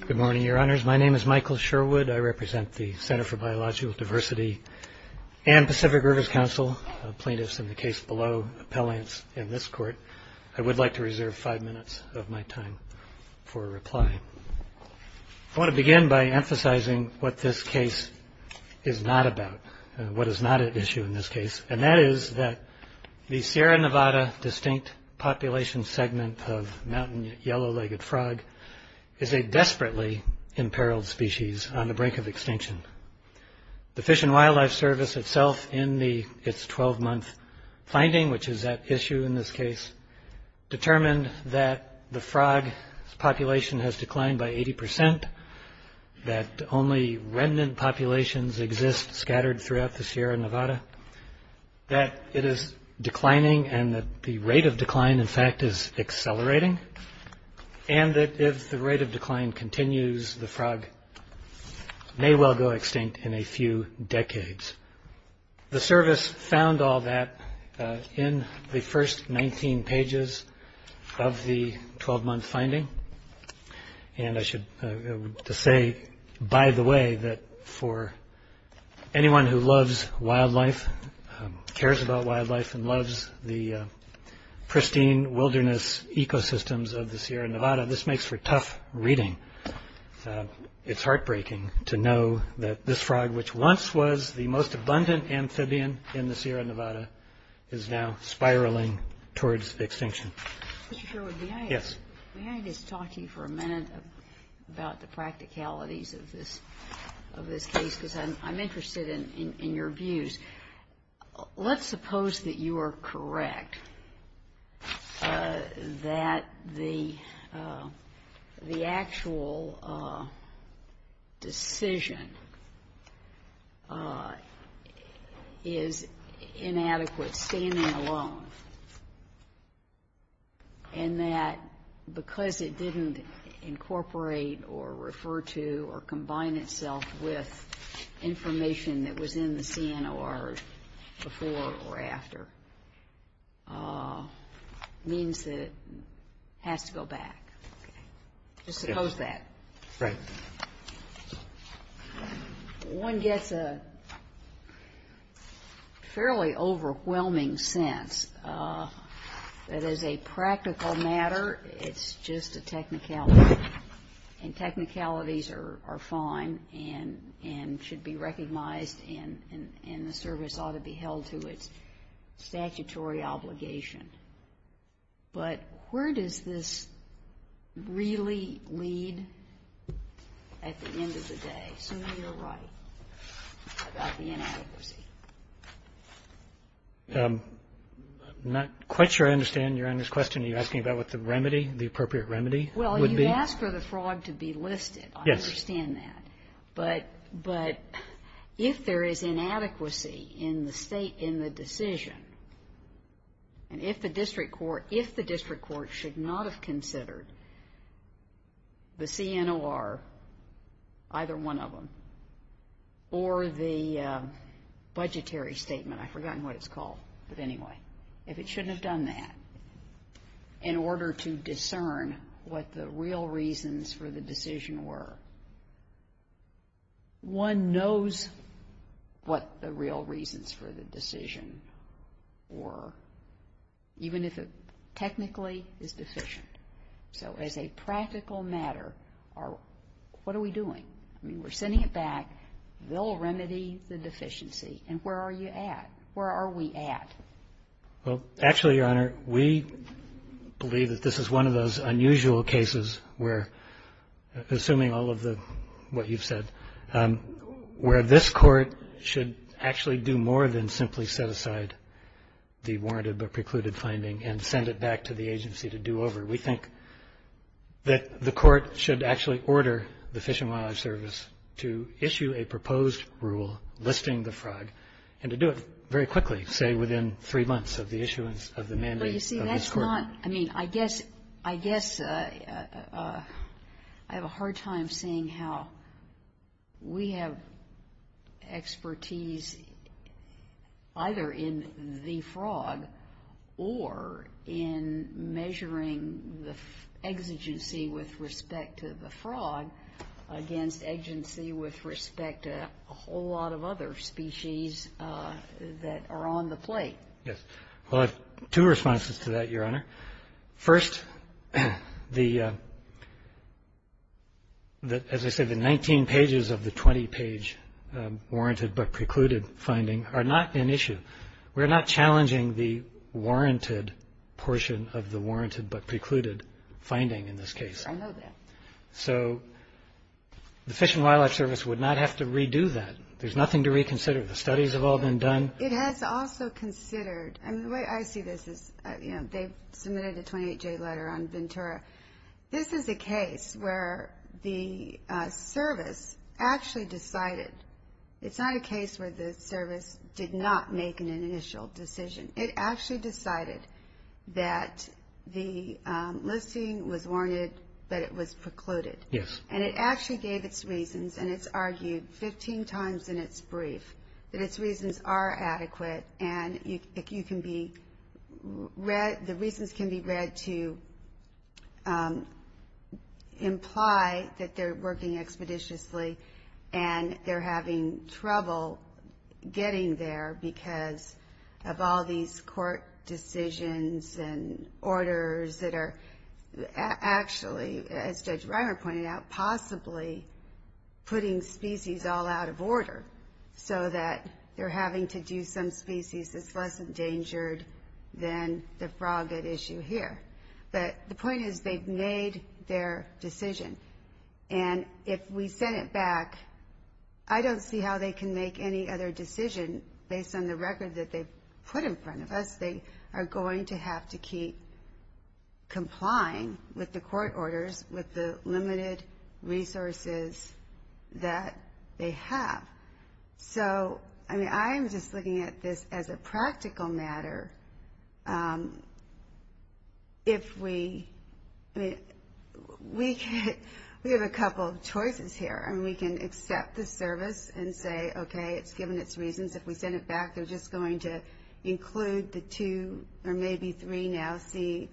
Good morning, Your Honors. My name is Michael Sherwood. I represent the Center for Biological Diversity and Pacific Rivers Council, plaintiffs in the case below, appellants in this court. I would like to reserve five minutes of my time for a reply. I want to begin by emphasizing what this case is not about, what is not at issue in this case, and that is that the Sierra Yellow-Legged Frog is a desperately imperiled species on the brink of extinction. The Fish and Wildlife Service itself in its 12-month finding, which is at issue in this case, determined that the frog's population has declined by 80 percent, that only remnant populations exist scattered throughout the Sierra Nevada, that it is declining and that the rate of decline continues, the frog may well go extinct in a few decades. The service found all that in the first 19 pages of the 12-month finding, and I should say, by the way, that for anyone who loves wildlife, cares about wildlife, and loves the pristine wilderness ecosystems of the Sierra Nevada, this makes for tough reading. It's heartbreaking to know that this frog, which once was the most abundant amphibian in the Sierra Nevada, is now spiraling towards extinction. Mr. Sherwood, may I just talk to you for a minute about the practicalities of this case, because I'm interested in your views. Let's suppose that you are correct, that the actual decision is inadequate standing alone, and that because it didn't incorporate or refer to or combine itself with information that was in the CNOR before or after, means that it has to go back. Just suppose that. One gets a fairly overwhelming sense that as a practical matter, it's just a technicality, and technicalities are fine and should be recognized, and the service ought to be held to its statutory obligation. But where does this really lead at the end of the day, assuming you're right about the inadequacy? I'm not quite sure I understand your honest question. Are you asking about what the remedy, the appropriate remedy would be? Well, you asked for the frog to be listed. I understand that. But if there is inadequacy in the decision, and if the district court should not have considered the CNOR, either one of them, or the budgetary statement, I've forgotten what it's called, but anyway, if it shouldn't have done that in order to discern what the real reasons for the decision were, one knows what the real reasons for the decision were, even if it technically is deficient. So as a practical matter, what are we doing? I mean, we're sending it back. They'll remedy the deficiency. And where are you at? Where are we at? Well, actually, Your Honor, we believe that this is one of those unusual cases where, assuming all of the, what you've said, where this court should actually do more than simply set aside the warranted but precluded finding and send it back to the agency to do over. We think that the court should actually order the Fish and Wildlife Service to issue a proposed rule listing the fraud, and to do it very quickly, say, within three months of the issuance of the mandate of this court. But you see, that's not, I mean, I guess, I guess I have a hard time seeing how we have expertise either in the fraud or in measuring the exigency with respect to the fraud against agency with respect to a whole lot of other species that are on the plate. Yes. Well, I have two responses to that, Your Honor. First, the, as I said, the 19 pages of the 20-page warranted but precluded finding are not an issue. We're not challenging the warranted portion of the warranted but precluded finding in this case. I know that. So the Fish and Wildlife Service would not have to redo that. There's nothing to reconsider. The studies have all been done. It has also considered, and the way I see this is, you know, they submitted a 28-J letter on Ventura. This is a case where the service actually decided, it's not a case where the service did not make an initial decision. It actually decided that the listing was warranted but it was precluded. Yes. And it actually gave its reasons and it's argued 15 times in its brief that its reasons are adequate and you can be read, the reasons can be read to imply that they're working expeditiously and they're having trouble getting there because of all these court decisions and orders that are actually, as Judge Reimer pointed out, possibly putting species all out of order so that they're having to do some species that's less endangered than the frog at issue here. But the point is they've made their decision and if we send it back, I don't see how they can make any other decision based on the record that they've put in front of us. They are going to have to keep complying with the court orders with the limited resources that they have. So, I mean, I'm just looking at this as a practical matter. If we, I mean, we have a couple of choices here. I mean, we can accept the service and say, okay, it's going to send it back. They're just going to include the two or maybe three now CNOIRs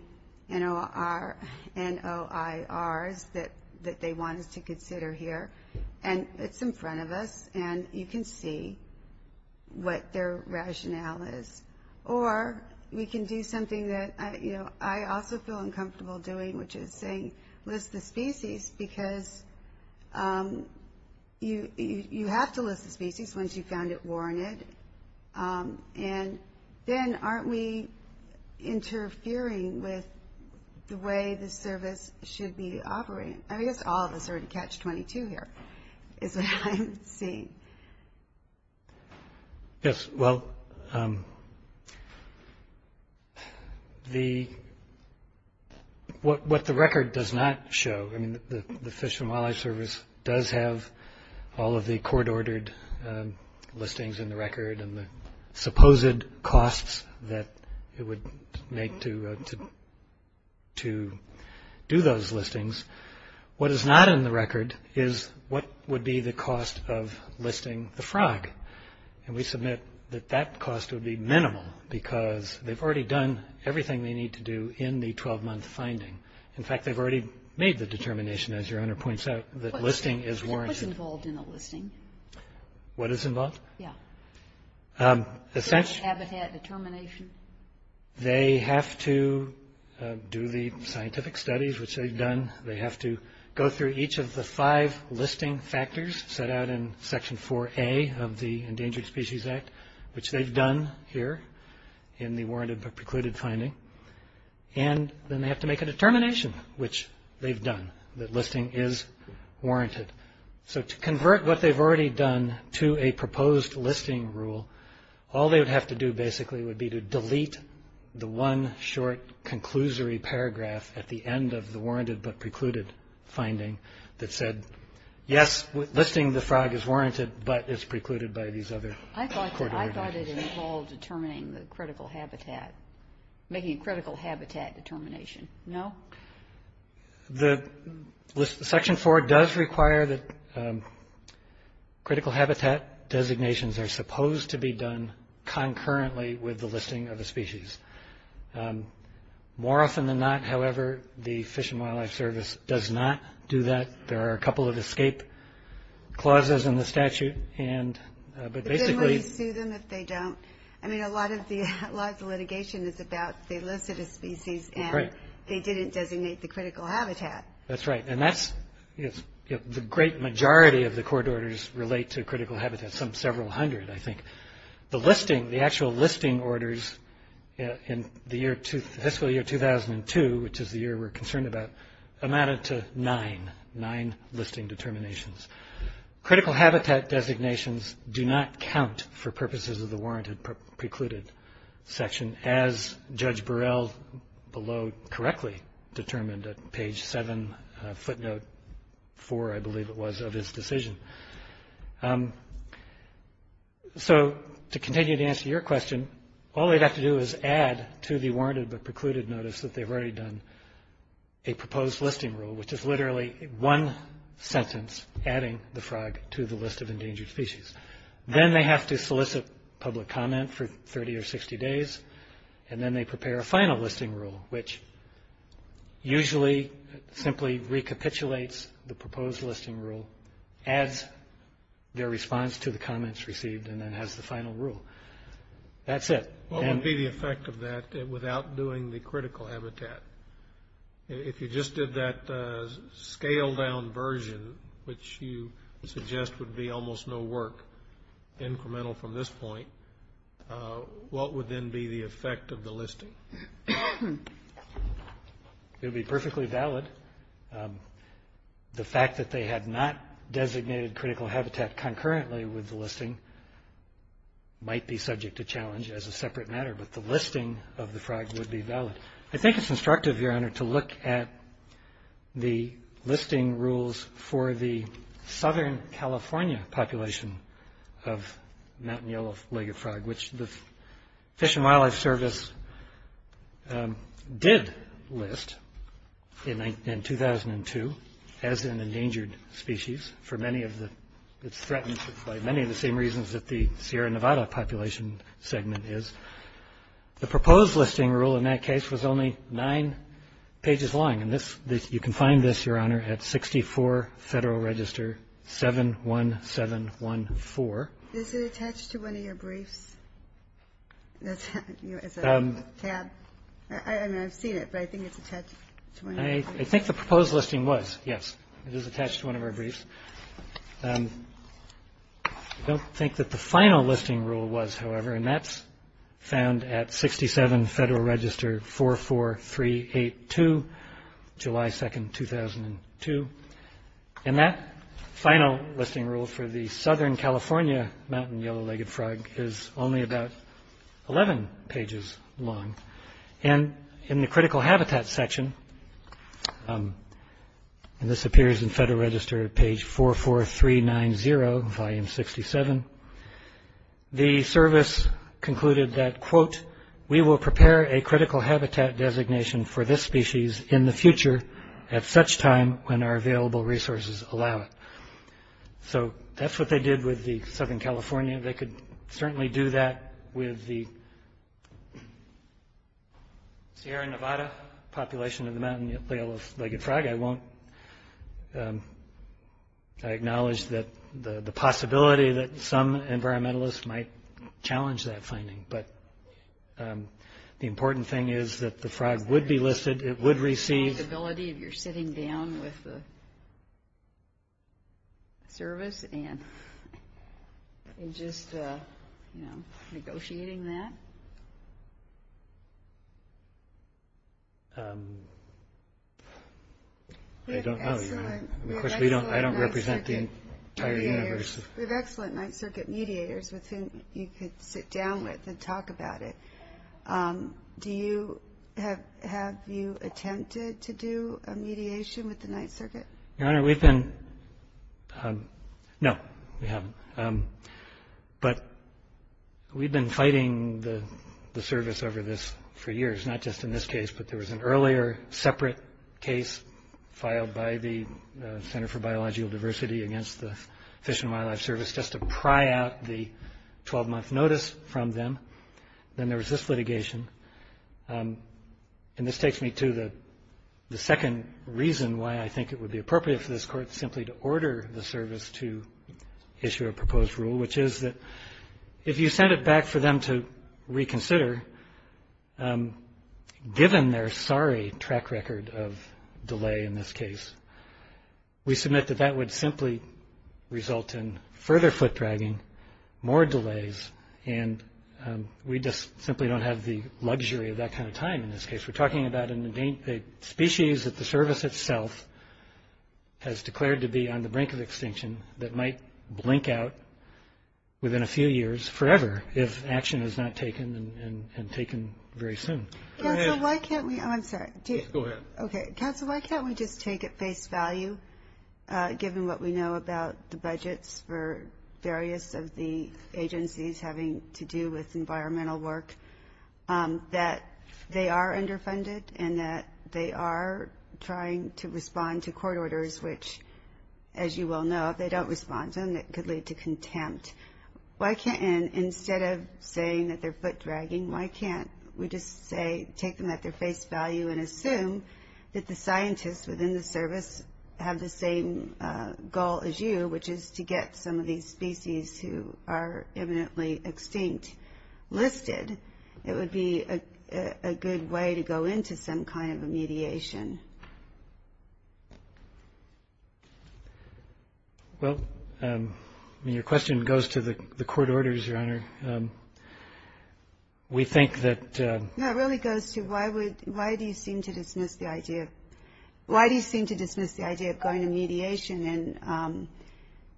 that they want us to consider here and it's in front of us and you can see what their rationale is. Or we can do something that I also feel uncomfortable doing which is saying list the species because you have to list the species once you've found it warranted and then aren't we interfering with the way the service should be operating? I guess all of us are in catch 22 here is what I'm seeing. What the record does not show, I mean, the Fish and Wildlife Service does have all of the court-ordered listings in the record and the supposed costs that it would make to do those listings. What is not in the record is what would be the cost of listing the frog and we submit that that cost would be minimal because they've already done everything they need to do in the 12-month finding. In fact, they've already made the determination as your Honor points out that listing is warranted. What's involved in a listing? What is involved? Yeah. The fish? The habitat determination? They have to do the scientific studies which they've done. They have to go through each of the five listing factors set out in Section 4A of the Endangered Species Act which they've done here in the warranted but precluded finding and then they have to make a determination which they've done that listing is warranted. So to convert what they've already done to a proposed listing rule, all they would have to do basically would be to delete the one short conclusory paragraph at the end of the warranted but precluded finding that said, yes, listing the frog is warranted but it's precluded by these other court-ordered findings. I thought it involved determining the critical habitat, making a critical habitat determination. The Section 4 does require that critical habitat designations are supposed to be done concurrently with the listing of a species. More often than not, however, the Fish and Wildlife Service does not do that. There are a couple of escape clauses in the statute and but basically... But then why do you sue them if they don't? I mean a lot of the litigation is about they didn't designate the critical habitat. That's right and that's the great majority of the court orders relate to critical habitat, some several hundred I think. The listing, the actual listing orders in the fiscal year 2002, which is the year we're concerned about, amounted to nine, nine listing determinations. Critical habitat designations do not count for purposes of the warranted precluded section as Judge Burrell below correctly determined at page seven, footnote four I believe it was of his decision. To continue to answer your question, all they'd have to do is add to the warranted but precluded notice that they've already done a proposed listing rule, which is literally one sentence adding the frog to the list of endangered species. Then they have to solicit public comment for 30 or 60 days and then they prepare a final listing rule, which usually simply recapitulates the proposed listing rule, adds their response to the comments received and then has the final rule. That's it. What would be the effect of that without doing the critical habitat? If you just did that scale down version, which you suggest would be almost no work, incremental from this point, what would then be the effect of the listing? It would be perfectly valid. The fact that they had not designated critical habitat concurrently with the listing might be subject to challenge as a separate matter, but the listing of the frog would be valid. I think it's instructive, Your Honor, to look at the listing rules for the Southern California population of mountain yellow-legged frog, which the Fish and Wildlife Service did list in 2002 as an endangered species. It's threatened by many of the same reasons that the Sierra Nevada population segment is. The proposed listing rule in that is found at 67 Federal Register 71714. Is it attached to one of your briefs? I've seen it, but I think it's attached to one of your briefs. I think the proposed listing was, yes. It is attached to one of our briefs. I don't think that the final listing rule was, however, and that's found at 67 Federal Register 44382, July 2nd, 2002. That final listing rule for the Southern California mountain yellow-legged frog is only about 11 pages long. In the critical habitat section, and this appears in Federal Register page 44390, volume 67, the service concluded that, quote, we will prepare a critical habitat designation for this species in the future at such time when our available resources allow it. That's what they did with the Southern California. They could certainly do that with the Sierra Nevada population of the mountain yellow-legged frog. I won't acknowledge that the possibility that some environmentalists might challenge that finding, but the important thing is that the frog would be listed. It would receive... The possibility of your sitting down with the service and just negotiating that? I don't know. Of course, I don't represent the entire university. We have excellent Ninth Circuit mediators with whom you could sit down with and talk about it. Have you attempted to do a mediation with the Ninth Circuit? No, we haven't, but we've been fighting the service over this for years, not just in this case, but there was an earlier separate case filed by the Center for Biological Diversity against the Fish and Wildlife Service just to pry out the 12-month notice from them. Then there was this litigation. This takes me to the second reason why I think it would be appropriate for this court simply to order the service to issue a proposed rule, which is that if you send it back for them to reconsider, given their sorry track record of delay in this case, we submit that that would simply result in further foot-dragging, more delays, and we just simply don't have the luxury of that kind of time in this case. We're talking about a species that the service itself has declared to be on the brink of extinction that might blink out within a few years, forever, if action is not taken and taken very soon. Counsel, why can't we just take at face value, given what we know about the budgets for various of the agencies having to do with environmental work, that they are underfunded and that they are trying to respond to court orders, which, as you well know, if they don't respond to them, it could lead to contempt. Instead of saying that they're foot-dragging, why can't we just say, take them at their face value and assume that the scientists within the service have the same goal as you, which is to get some of these species who are eminently extinct listed. It would be a good way to go into some kind of a mediation. Well, your question goes to the court orders, Your Honor. One of the things that the court orders, we think that... No, it really goes to, why do you seem to dismiss the idea of going to mediation?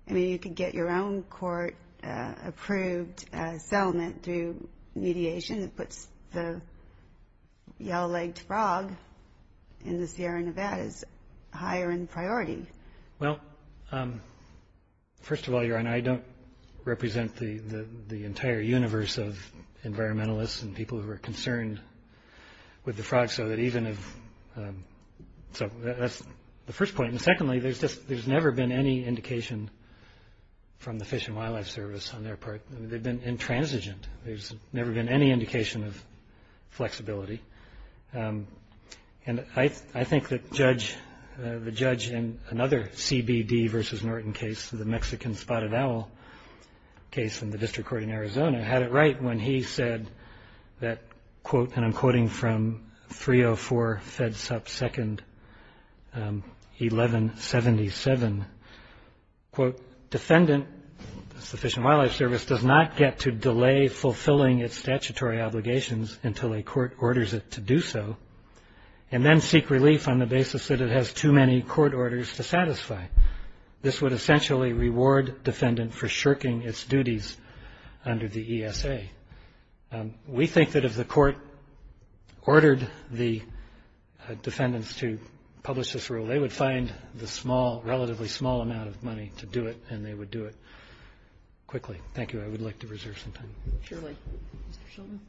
You could get your own court-approved settlement through mediation that puts the yellow-legged frog in the Sierra Nevadas higher in priority. Well, first of all, Your Honor, I don't represent the entire universe of environmentalists, and people who are concerned with the frogs. That's the first point. Secondly, there's never been any indication from the Fish and Wildlife Service on their part. They've been intransigent. There's never been any indication of flexibility. I think that the judge in another CBD versus Norton case, the Mexican spotted owl case in the District Court in that quote, and I'm quoting from 304 FEDSUP 2nd 1177, quote, defendant, the Fish and Wildlife Service, does not get to delay fulfilling its statutory obligations until a court orders it to do so, and then seek relief on the basis that it has too many court orders to satisfy. This would essentially reward defendant for shirking its duties under the ESA. We think that if the court ordered the defendants to publish this rule, they would find the relatively small amount of money to do it, and they would do it quickly. Thank you. I would like to reserve some time. Surely. Mr. Shilton.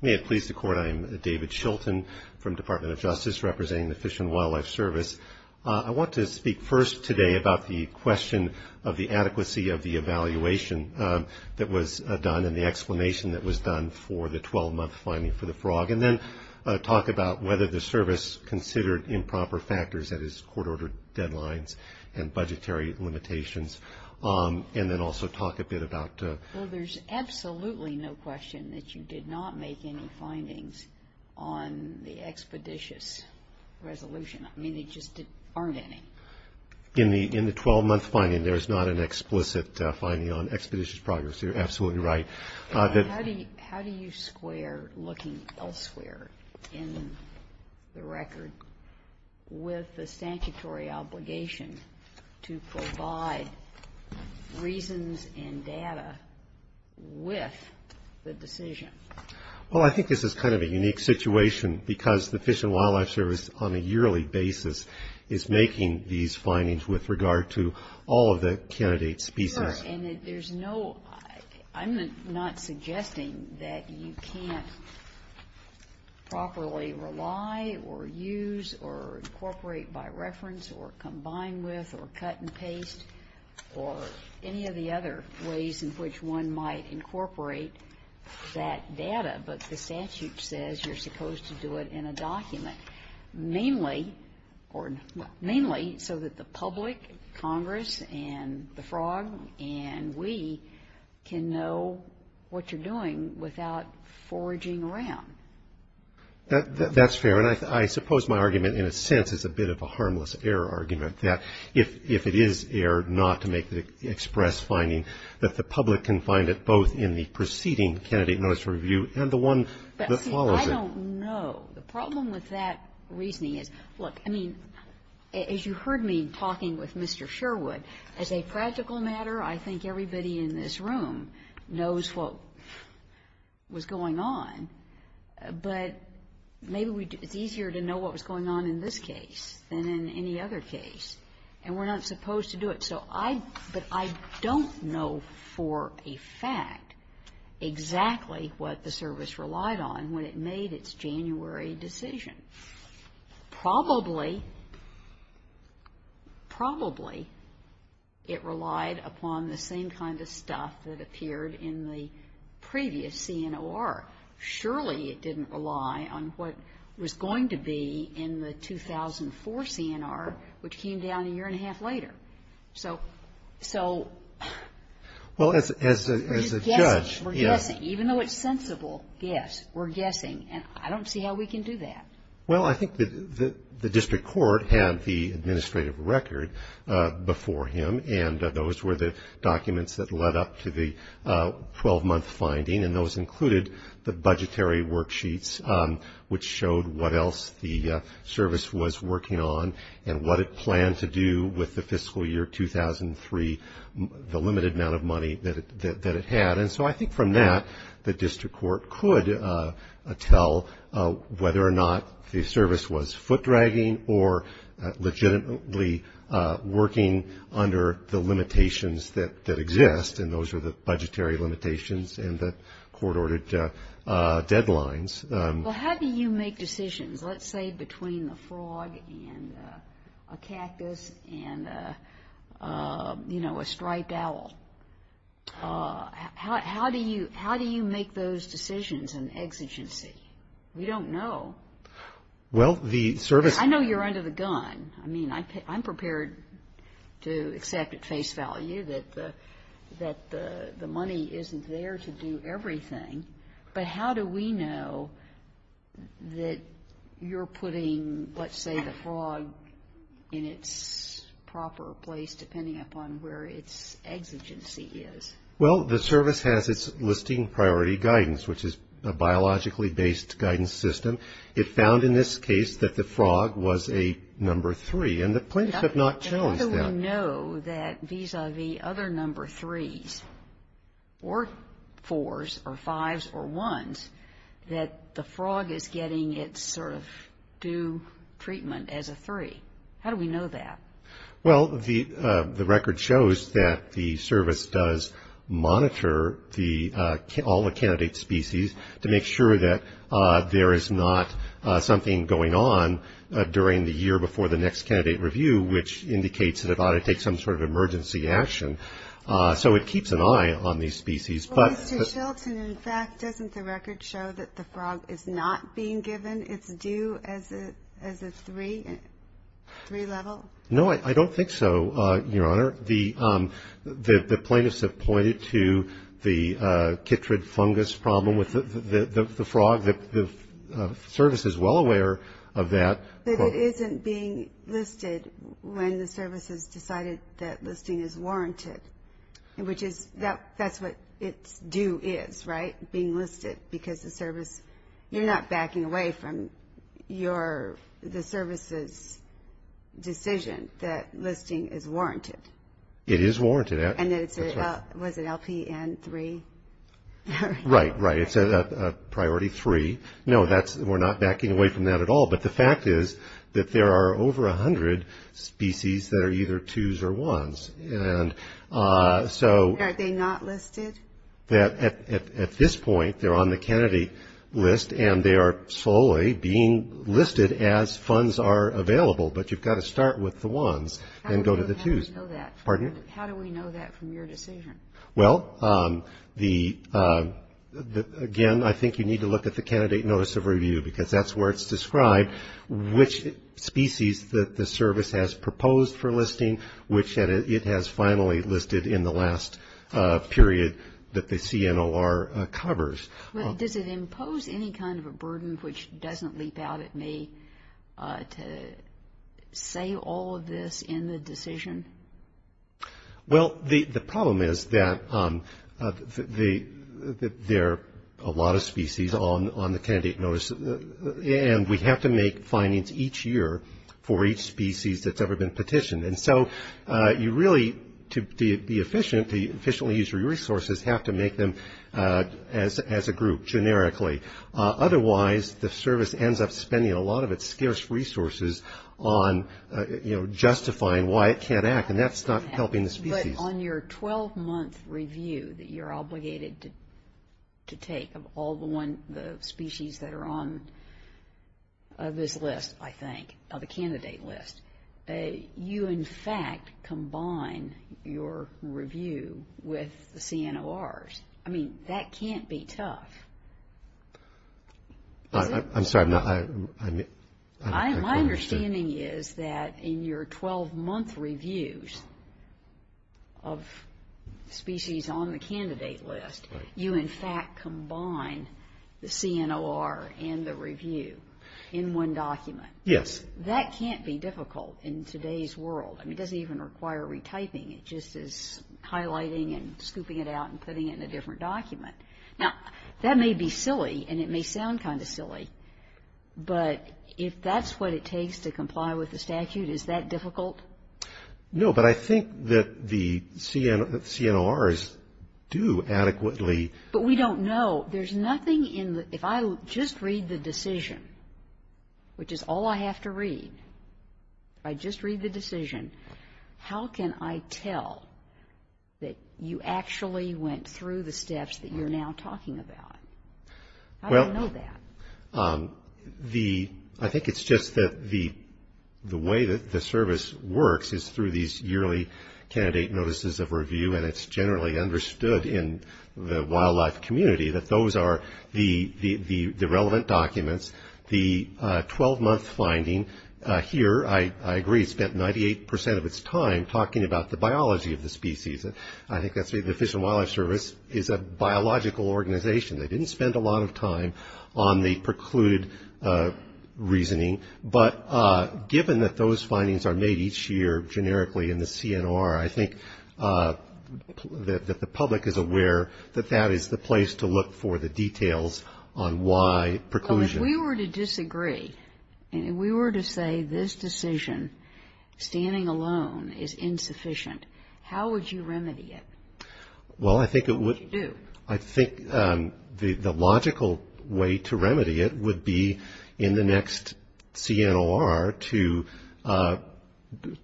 May it please the Court, I am David Shilton from the Department of Justice representing the Fish and Wildlife Service. I want to speak first today about the question of the adequacy of the evaluation that was done and the explanation that was done for the 12-month finding for the frog, and then talk about whether the service considered improper factors that its court ordered deadlines and budgetary limitations, and then also talk a bit about... Well, there's absolutely no question that you did not make any findings on the expeditious resolution. I mean, there just aren't any. In the 12-month finding, there's not an explicit finding on expeditious progress. You're absolutely right. How do you square looking elsewhere in the record with the sanctuary obligation to provide reasons and data with the decision? Well, I think this is kind of a unique situation, because the Fish and Wildlife Service on a yearly basis is making these findings with regard to all of the candidate species. I'm not suggesting that you can't properly rely or use or incorporate by reference or combine with or cut and paste or any of the other ways in which one might incorporate that data, but the statute says you're supposed to do it in a document, mainly so that the And we can know what you're doing without foraging around. That's fair. And I suppose my argument, in a sense, is a bit of a harmless error argument, that if it is errored not to make the express finding, that the public can find it both in the preceding candidate notice review and the one that follows it. I don't know. The problem with that reasoning is, look, I mean, as you heard me talking with Mr. Sherwood, as a practical matter, I think everybody in this room knows what was going on, but maybe it's easier to know what was going on in this case than in any other case, and we're not supposed to do it. But I don't know for a fact exactly what the service relied on when it made its January decision. Probably, probably it relied upon the same kind of stuff that appeared in the previous CNOR. Surely it didn't rely on what was going to be in the 2004 CNR, which came down a year and a half later. So, so we're guessing. Even though it's sensible, yes, we're guessing, and I don't see how we can do that. Well, I think the district court had the administrative record before him, and those were the documents that led up to the 12-month finding, and those included the budgetary worksheets, which showed what else the service was working on and what it planned to do with the fiscal year 2003, the limited amount of money that it had. And so I think from that, the district court could tell whether or not the service was foot-dragging or legitimately working under the limitations that exist, and those are the budgetary limitations and the court-ordered deadlines. Well, how do you make decisions, let's say, between the frog and a cactus and, you know, a striped owl? How do you make those decisions in exigency? We don't know. Well, the service I know you're under the gun. I mean, I'm prepared to accept at face value that the money isn't there to do everything, but how do we know that you're putting, let's say, the frog in its proper place depending upon where its exigency is? Well, the service has its listing priority guidance, which is a biologically-based guidance system. It found in this case that the frog was a number three, and the plaintiffs have not challenged that. How do we know that vis-a-vis other number threes or fours or fives or ones that the frog is getting its sort of due treatment as a three? How do we know that? Well, the record shows that the service does monitor all the candidate species to make sure that there is not something going on during the year before the next candidate review, which indicates that it ought to take some sort of emergency action. So it keeps an eye on these species, but Well, Mr. Shelton, in fact, doesn't the record show that the frog is not being given its due as a three level? No, I don't think so, Your Honor. The plaintiffs have pointed to the chytrid fungus problem with the frog. The service is well aware of that. But it isn't being listed when the service has decided that listing is warranted, which is that's what its due is, right, being listed because the service, you're not backing away from the service's decision that listing is warranted. It is warranted. And then it's a, was it LPN three? Right, right. It's a priority three. No, we're not backing away from that at all. But the fact is that there are over 100 species that are either twos or ones. And so Are they not listed? At this point, they're on the candidate list and they are slowly being listed as funds are available. But you've got to start with the ones and go to the twos. How do we know that from your decision? Well, again, I think you need to look at the candidate notice of review because that's where it's described, which species that the service has proposed for listing, which it has finally listed in the last period that the CNOR covers. Does it impose any kind of a burden, which doesn't leap out at me, to say all of this in the decision? Well, the problem is that there are a lot of species on the candidate notice. And we have to make findings each year for each species that's ever been petitioned. And so you really, to be efficient, to efficiently use your resources, have to make them as a group, generically. Otherwise, the service ends up spending a lot of its scarce resources on, you know, justifying why it can't act. And that's not helping the species. But on your 12-month review that you're obligated to take of all the species that are on this list, I think, of the candidate list, you, in fact, combine your review with the CNORs. I mean, that can't be tough. I'm sorry. My understanding is that in your 12-month reviews of species on the candidate list, you, in fact, combine the CNOR and the review in one document. Yes. That can't be difficult in today's world. I mean, it doesn't even require retyping. It just is highlighting and scooping it out and putting it in a different document. Now, that may be silly, and it may sound kind of silly, but if that's what it takes to comply with the statute, is that difficult? No, but I think that the CNORs do adequately. But we don't know. There's nothing in the – if I just read the decision, which is all I have to read, if I just read the decision, how can I tell that you actually went through the steps that you're now talking about? I don't know that. I think it's just that the way that the service works is through these yearly candidate notices of review, and it's generally understood in the wildlife community that those are the relevant documents, the 12-month finding here, I agree, spent 98 percent of its time talking about the biology of the species. I think that the Fish and Wildlife Service is a biological organization. They didn't spend a lot of time on the precluded reasoning. But given that those findings are made each year generically in the CNOR, I think that the public is aware that that is the place to look for the details on why preclusion. So if we were to disagree, and if we were to say this decision, standing alone, is insufficient, how would you remedy it? What would you do? I think the logical way to remedy it would be in the next CNOR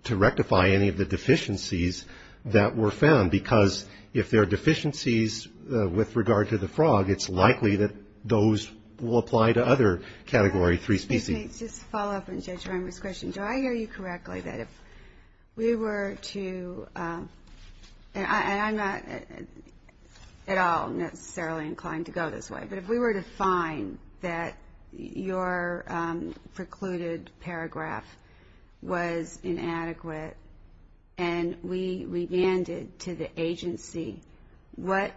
to rectify any of the deficiencies that were found, because if there are deficiencies with regard to the frog, it's likely that those will apply to other Category 3 species. Just to follow up on Judge Reimer's question, do I hear you correctly that if we were to, and I'm not at all necessarily inclined to go this way, but if we were to find that your precluded paragraph was inadequate and we remanded to the agency, what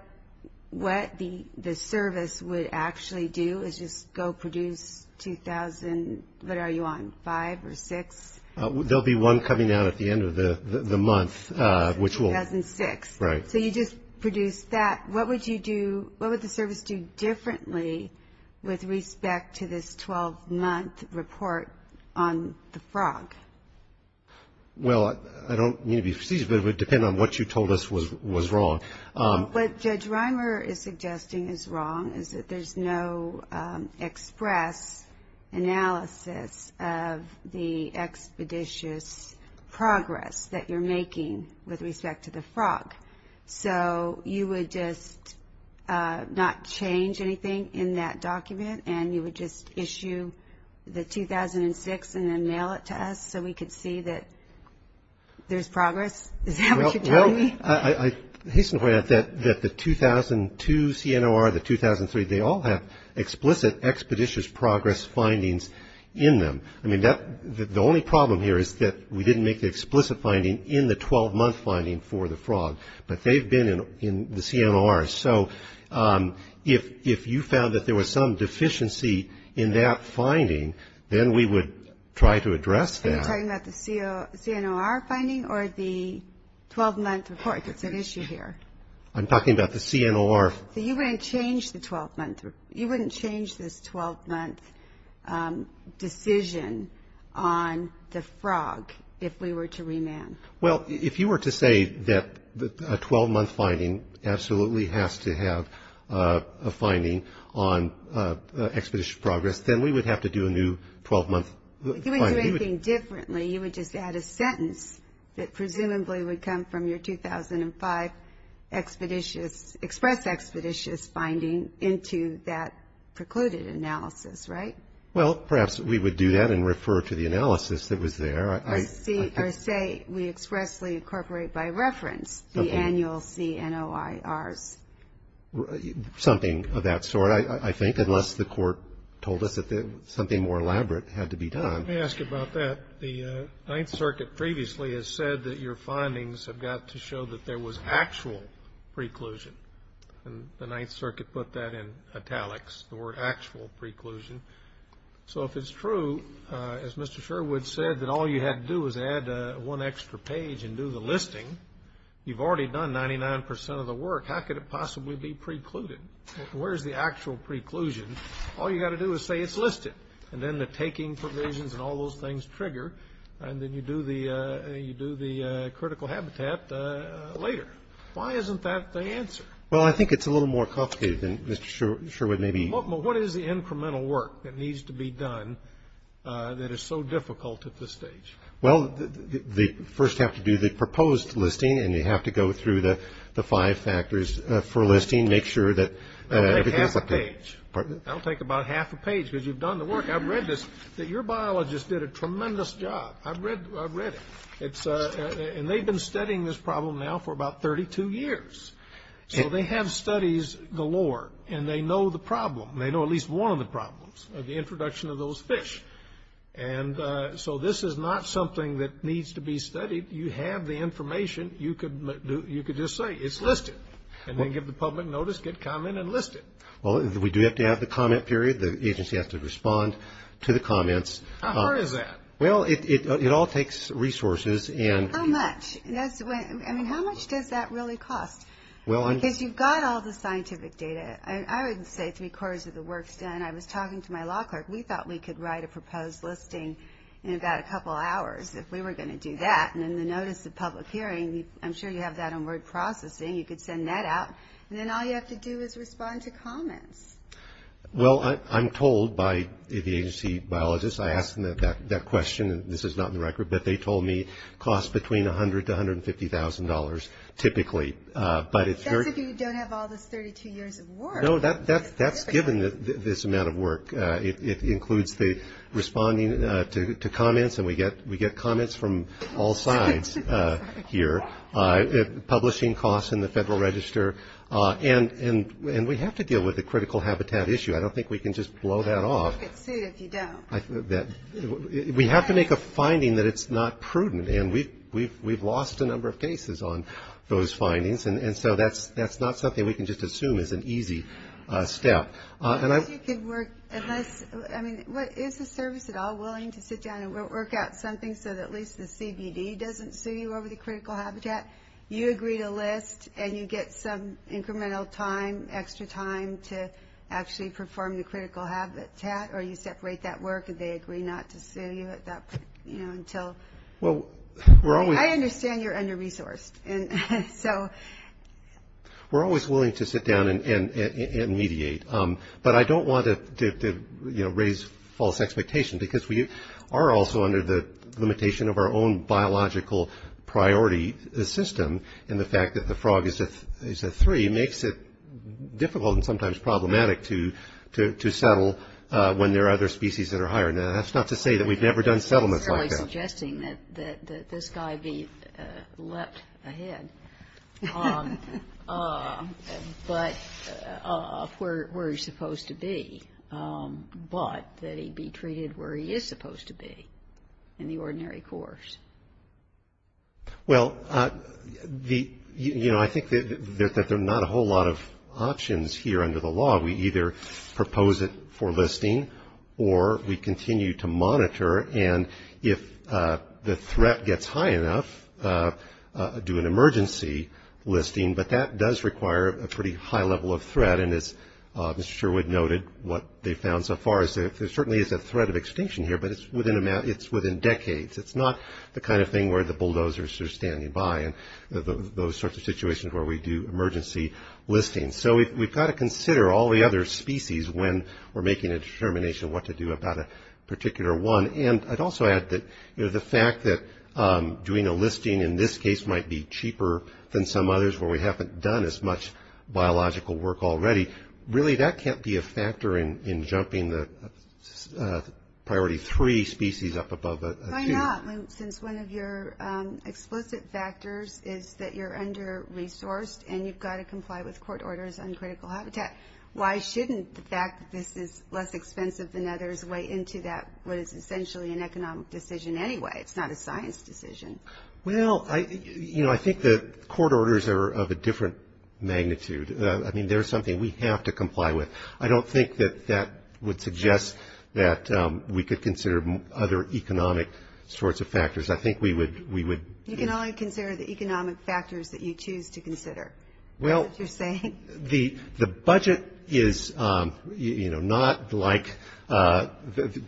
the service would actually do is just go produce 2,000, what are you on, five or six? There will be one coming out at the end of the month. 2,006. Right. So you just produced that. What would you do, what would the service do differently with respect to this 12-month report on the frog? Well, I don't mean to be prestigious, but it would depend on what you told us was wrong. What Judge Reimer is suggesting is wrong is that there's no express analysis of the expeditious progress that you're making with respect to the frog. So you would just not change anything in that document and you would just issue the 2,006 and then mail it to us so we could see that there's progress? Is that what you're telling me? Well, I hasten to point out that the 2002 CNOR, the 2003, they all have explicit expeditious progress findings in them. The only problem here is that we didn't make the explicit finding in the 12-month finding for the frog, but they've been in the CNOR. So if you found that there was some deficiency in that finding, then we would try to address that. Are you talking about the CNOR finding or the 12-month report? It's an issue here. I'm talking about the CNOR. So you wouldn't change the 12-month? You wouldn't change this 12-month decision on the frog if we were to remand? Well, if you were to say that a 12-month finding absolutely has to have a finding on expeditious progress, then we would have to do a new 12-month finding. You wouldn't do anything differently. You would just add a sentence that presumably would come from your 2005 expeditious, express expeditious finding into that precluded analysis, right? Well, perhaps we would do that and refer to the analysis that was there. Or say we expressly incorporate by reference the annual CNORs. Something of that sort, I think, unless the court told us that something more elaborate had to be done. Let me ask you about that. The Ninth Circuit previously has said that your findings have got to show that there was actual preclusion. And the Ninth Circuit put that in italics, the word actual preclusion. So if it's true, as Mr. Sherwood said, that all you had to do was add one extra page and do the listing, you've already done 99 percent of the work. How could it possibly be precluded? Where is the actual preclusion? All you've got to do is say it's listed. And then the taking provisions and all those things trigger. And then you do the critical habitat later. Why isn't that the answer? Well, I think it's a little more complicated than Mr. Sherwood may be. Well, what is the incremental work that needs to be done that is so difficult at this stage? Well, they first have to do the proposed listing. And they have to go through the five factors for listing, make sure that everything is up to date. I'll take about half a page because you've done the work. I've read this, that your biologists did a tremendous job. I've read it. And they've been studying this problem now for about 32 years. So they have studies galore. And they know the problem. They know at least one of the problems of the introduction of those fish. And so this is not something that needs to be studied. You have the information. You could just say it's listed. And then give the public notice, get comment, and list it. Well, we do have to have the comment period. The agency has to respond to the comments. How hard is that? Well, it all takes resources. How much? I mean, how much does that really cost? Because you've got all the scientific data. I would say three-quarters of the work is done. I was talking to my law clerk. We thought we could write a proposed listing in about a couple hours if we were going to do that. And then the notice of public hearing, I'm sure you have that on word processing. You could send that out. And then all you have to do is respond to comments. Well, I'm told by the agency biologists, I ask them that question. This is not in the record. But they told me it costs between $100,000 to $150,000 typically. That's if you don't have all those 32 years of work. No, that's given this amount of work. It includes the responding to comments. And we get comments from all sides here. Publishing costs in the Federal Register. And we have to deal with the critical habitat issue. I don't think we can just blow that off. You have to make it suit if you don't. We have to make a finding that it's not prudent. And we've lost a number of cases on those findings. And so that's not something we can just assume is an easy step. I mean, is the service at all willing to sit down and work out something so that at least the CBD doesn't sue you over the critical habitat, you agree to list, and you get some incremental time, extra time to actually perform the critical habitat, or you separate that work, and they agree not to sue you at that point, you know, until. Well, we're always. I understand you're under-resourced. And so. We're always willing to sit down and mediate. But I don't want to, you know, raise false expectations. Because we are also under the limitation of our own biological priority system. And the fact that the frog is a three makes it difficult and sometimes problematic to settle when there are other species that are higher. Now, that's not to say that we've never done settlements like that. That's really suggesting that this guy be left ahead. But of where he's supposed to be. But that he be treated where he is supposed to be in the ordinary course. Well, you know, I think that there are not a whole lot of options here under the law. We either propose it for listing or we continue to monitor. And if the threat gets high enough, do an emergency listing. But that does require a pretty high level of threat. And as Mr. Sherwood noted, what they found so far is there certainly is a threat of extinction here. But it's within decades. It's not the kind of thing where the bulldozers are standing by. And those sorts of situations where we do emergency listings. So we've got to consider all the other species when we're making a determination what to do about a particular one. And I'd also add that, you know, the fact that doing a listing in this case might be cheaper than some others where we haven't done as much biological work already. Really, that can't be a factor in jumping the priority three species up above a few. Why not? Since one of your explicit factors is that you're under-resourced and you've got to comply with court orders on critical habitat. Why shouldn't the fact that this is less expensive than others weigh into that, what is essentially an economic decision anyway? It's not a science decision. Well, you know, I think the court orders are of a different magnitude. I mean, they're something we have to comply with. I don't think that that would suggest that we could consider other economic sorts of factors. I think we would. You can only consider the economic factors that you choose to consider. Well, the budget is, you know, not like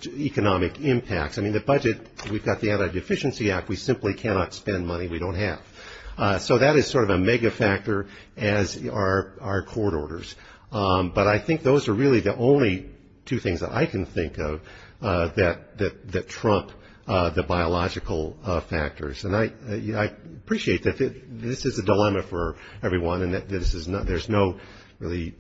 economic impacts. I mean, the budget, we've got the Anti-Deficiency Act. We simply cannot spend money we don't have. So that is sort of a mega factor as are court orders. But I think those are really the only two things that I can think of that trump the biological factors. And I appreciate that this is a dilemma for everyone and that there's no really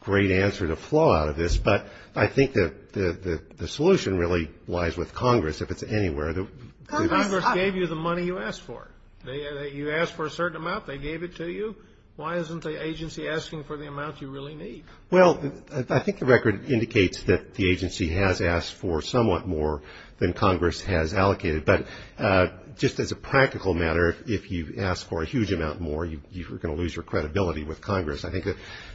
great answer to flow out of this, but I think that the solution really lies with Congress, if it's anywhere. Congress gave you the money you asked for. You asked for a certain amount, they gave it to you. Why isn't the agency asking for the amount you really need? Well, I think the record indicates that the agency has asked for somewhat more than Congress has allocated. But just as a practical matter, if you ask for a huge amount more, you're going to lose your credibility with Congress. I think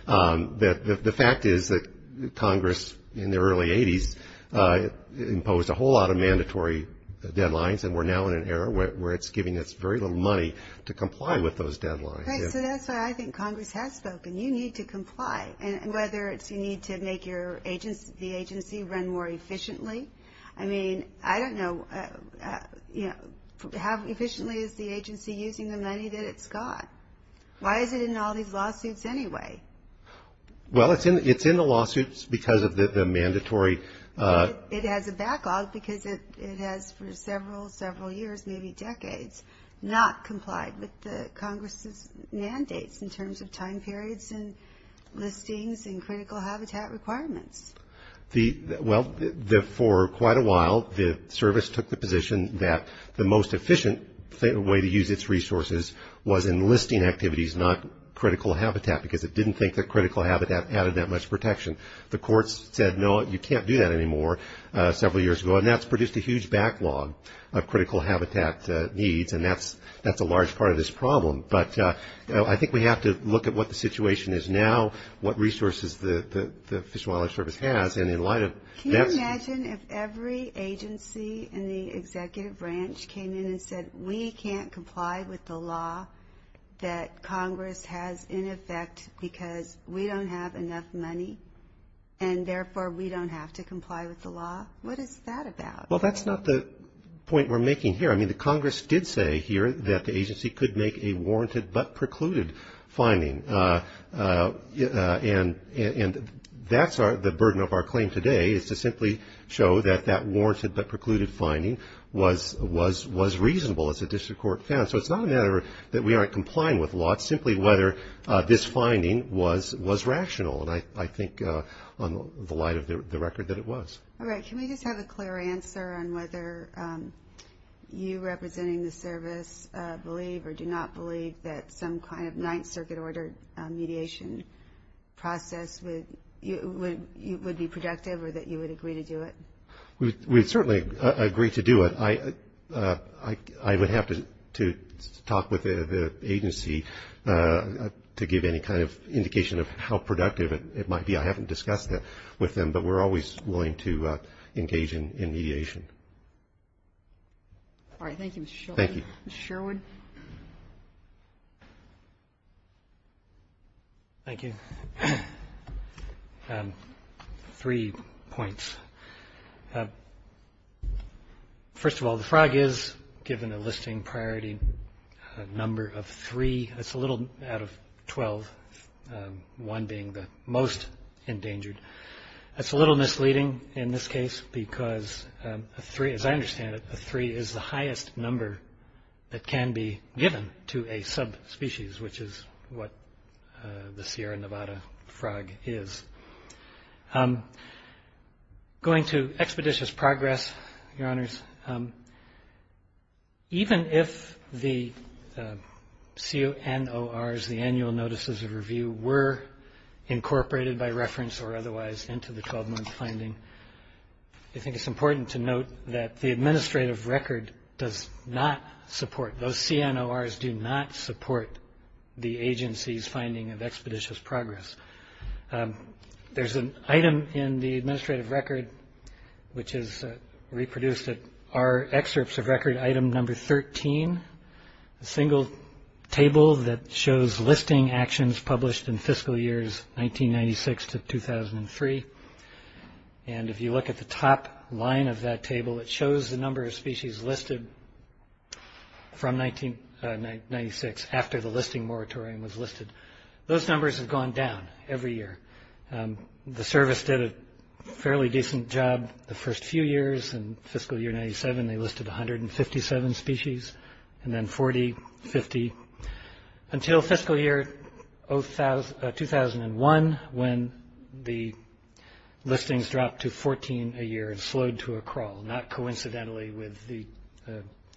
that the fact is that Congress in the early 80s imposed a whole lot of mandatory deadlines, and we're now in an era where it's giving us very little money to comply with those deadlines. So that's why I think Congress has spoken. You need to comply, whether it's you need to make the agency run more efficiently. I mean, I don't know, you know, how efficiently is the agency using the money that it's got? Why is it in all these lawsuits anyway? Well, it's in the lawsuits because of the mandatory. It has a backlog because it has for several, several years, maybe decades, not complied with Congress's mandates in terms of time periods and listings and critical habitat requirements. Well, for quite a while, the service took the position that the most efficient way to use its resources was in listing activities, not critical habitat, because it didn't think that critical habitat added that much protection. The courts said, no, you can't do that anymore, several years ago. And that's produced a huge backlog of critical habitat needs, and that's a large part of this problem. But I think we have to look at what the situation is now, what resources the Fish and Wildlife Service has. Can you imagine if every agency in the executive branch came in and said, we can't comply with the law that Congress has in effect because we don't have enough money, and therefore we don't have to comply with the law? What is that about? Well, that's not the point we're making here. I mean, the Congress did say here that the agency could make a warranted but precluded fining. And that's the burden of our claim today, is to simply show that that warranted but precluded fining was reasonable, as the district court found. So it's not a matter that we aren't complying with law, it's simply whether this finding was rational. And I think, in the light of the record, that it was. All right. Can we just have a clear answer on whether you, representing the service, believe or do not believe that some kind of Ninth Circuit-ordered mediation process would be productive, or that you would agree to do it? We'd certainly agree to do it. I would have to talk with the agency to give any kind of indication of how productive it might be. I haven't discussed that with them, but we're always willing to engage in mediation. All right. Thank you, Mr. Sherwood. Thank you. Mr. Sherwood. Thank you. Three points. First of all, the FRAG is, given the listing priority, a number of three. That's a little out of 12, one being the most endangered. That's a little misleading in this case because, as I understand it, a three is the highest number that can be given to a subspecies, which is what the Sierra Nevada frog is. Going to expeditious progress, Your Honors, even if the CNORs, the Annual Notices of Review, were incorporated by reference or otherwise into the 12-month finding, I think it's important to note that the administrative record does not support, those CNORs do not support the agency's finding of expeditious progress. There's an item in the administrative record which is reproduced at our excerpts of record item number 13, a single table that shows listing actions published in fiscal years 1996 to 2003. And if you look at the top line of that table, it shows the number of species listed from 1996 and those numbers have gone down every year. The service did a fairly decent job the first few years. In fiscal year 1997, they listed 157 species and then 40, 50, until fiscal year 2001 when the listings dropped to 14 a year and slowed to a crawl, not coincidentally with the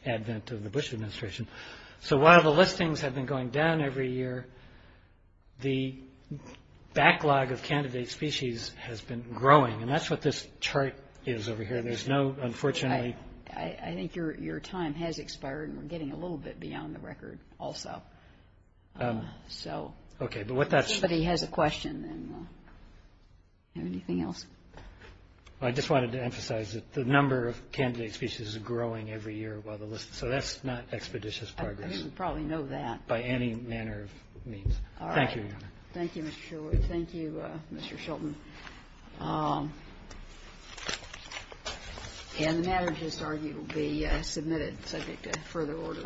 advent of the Bush administration. So while the listings have been going down every year, the backlog of candidate species has been growing and that's what this chart is over here. There's no, unfortunately... I think your time has expired and we're getting a little bit beyond the record also. Okay, but what that's... If anybody has a question, anything else? I just wanted to emphasize that the number of candidate species is growing every year while the list... So that's not expeditious progress. I didn't probably know that. By any manner of means. All right. Thank you, Your Honor. Thank you, Mr. Shultz. Thank you, Mr. Shultz. And the matter, it is argued, will be submitted subject to further order.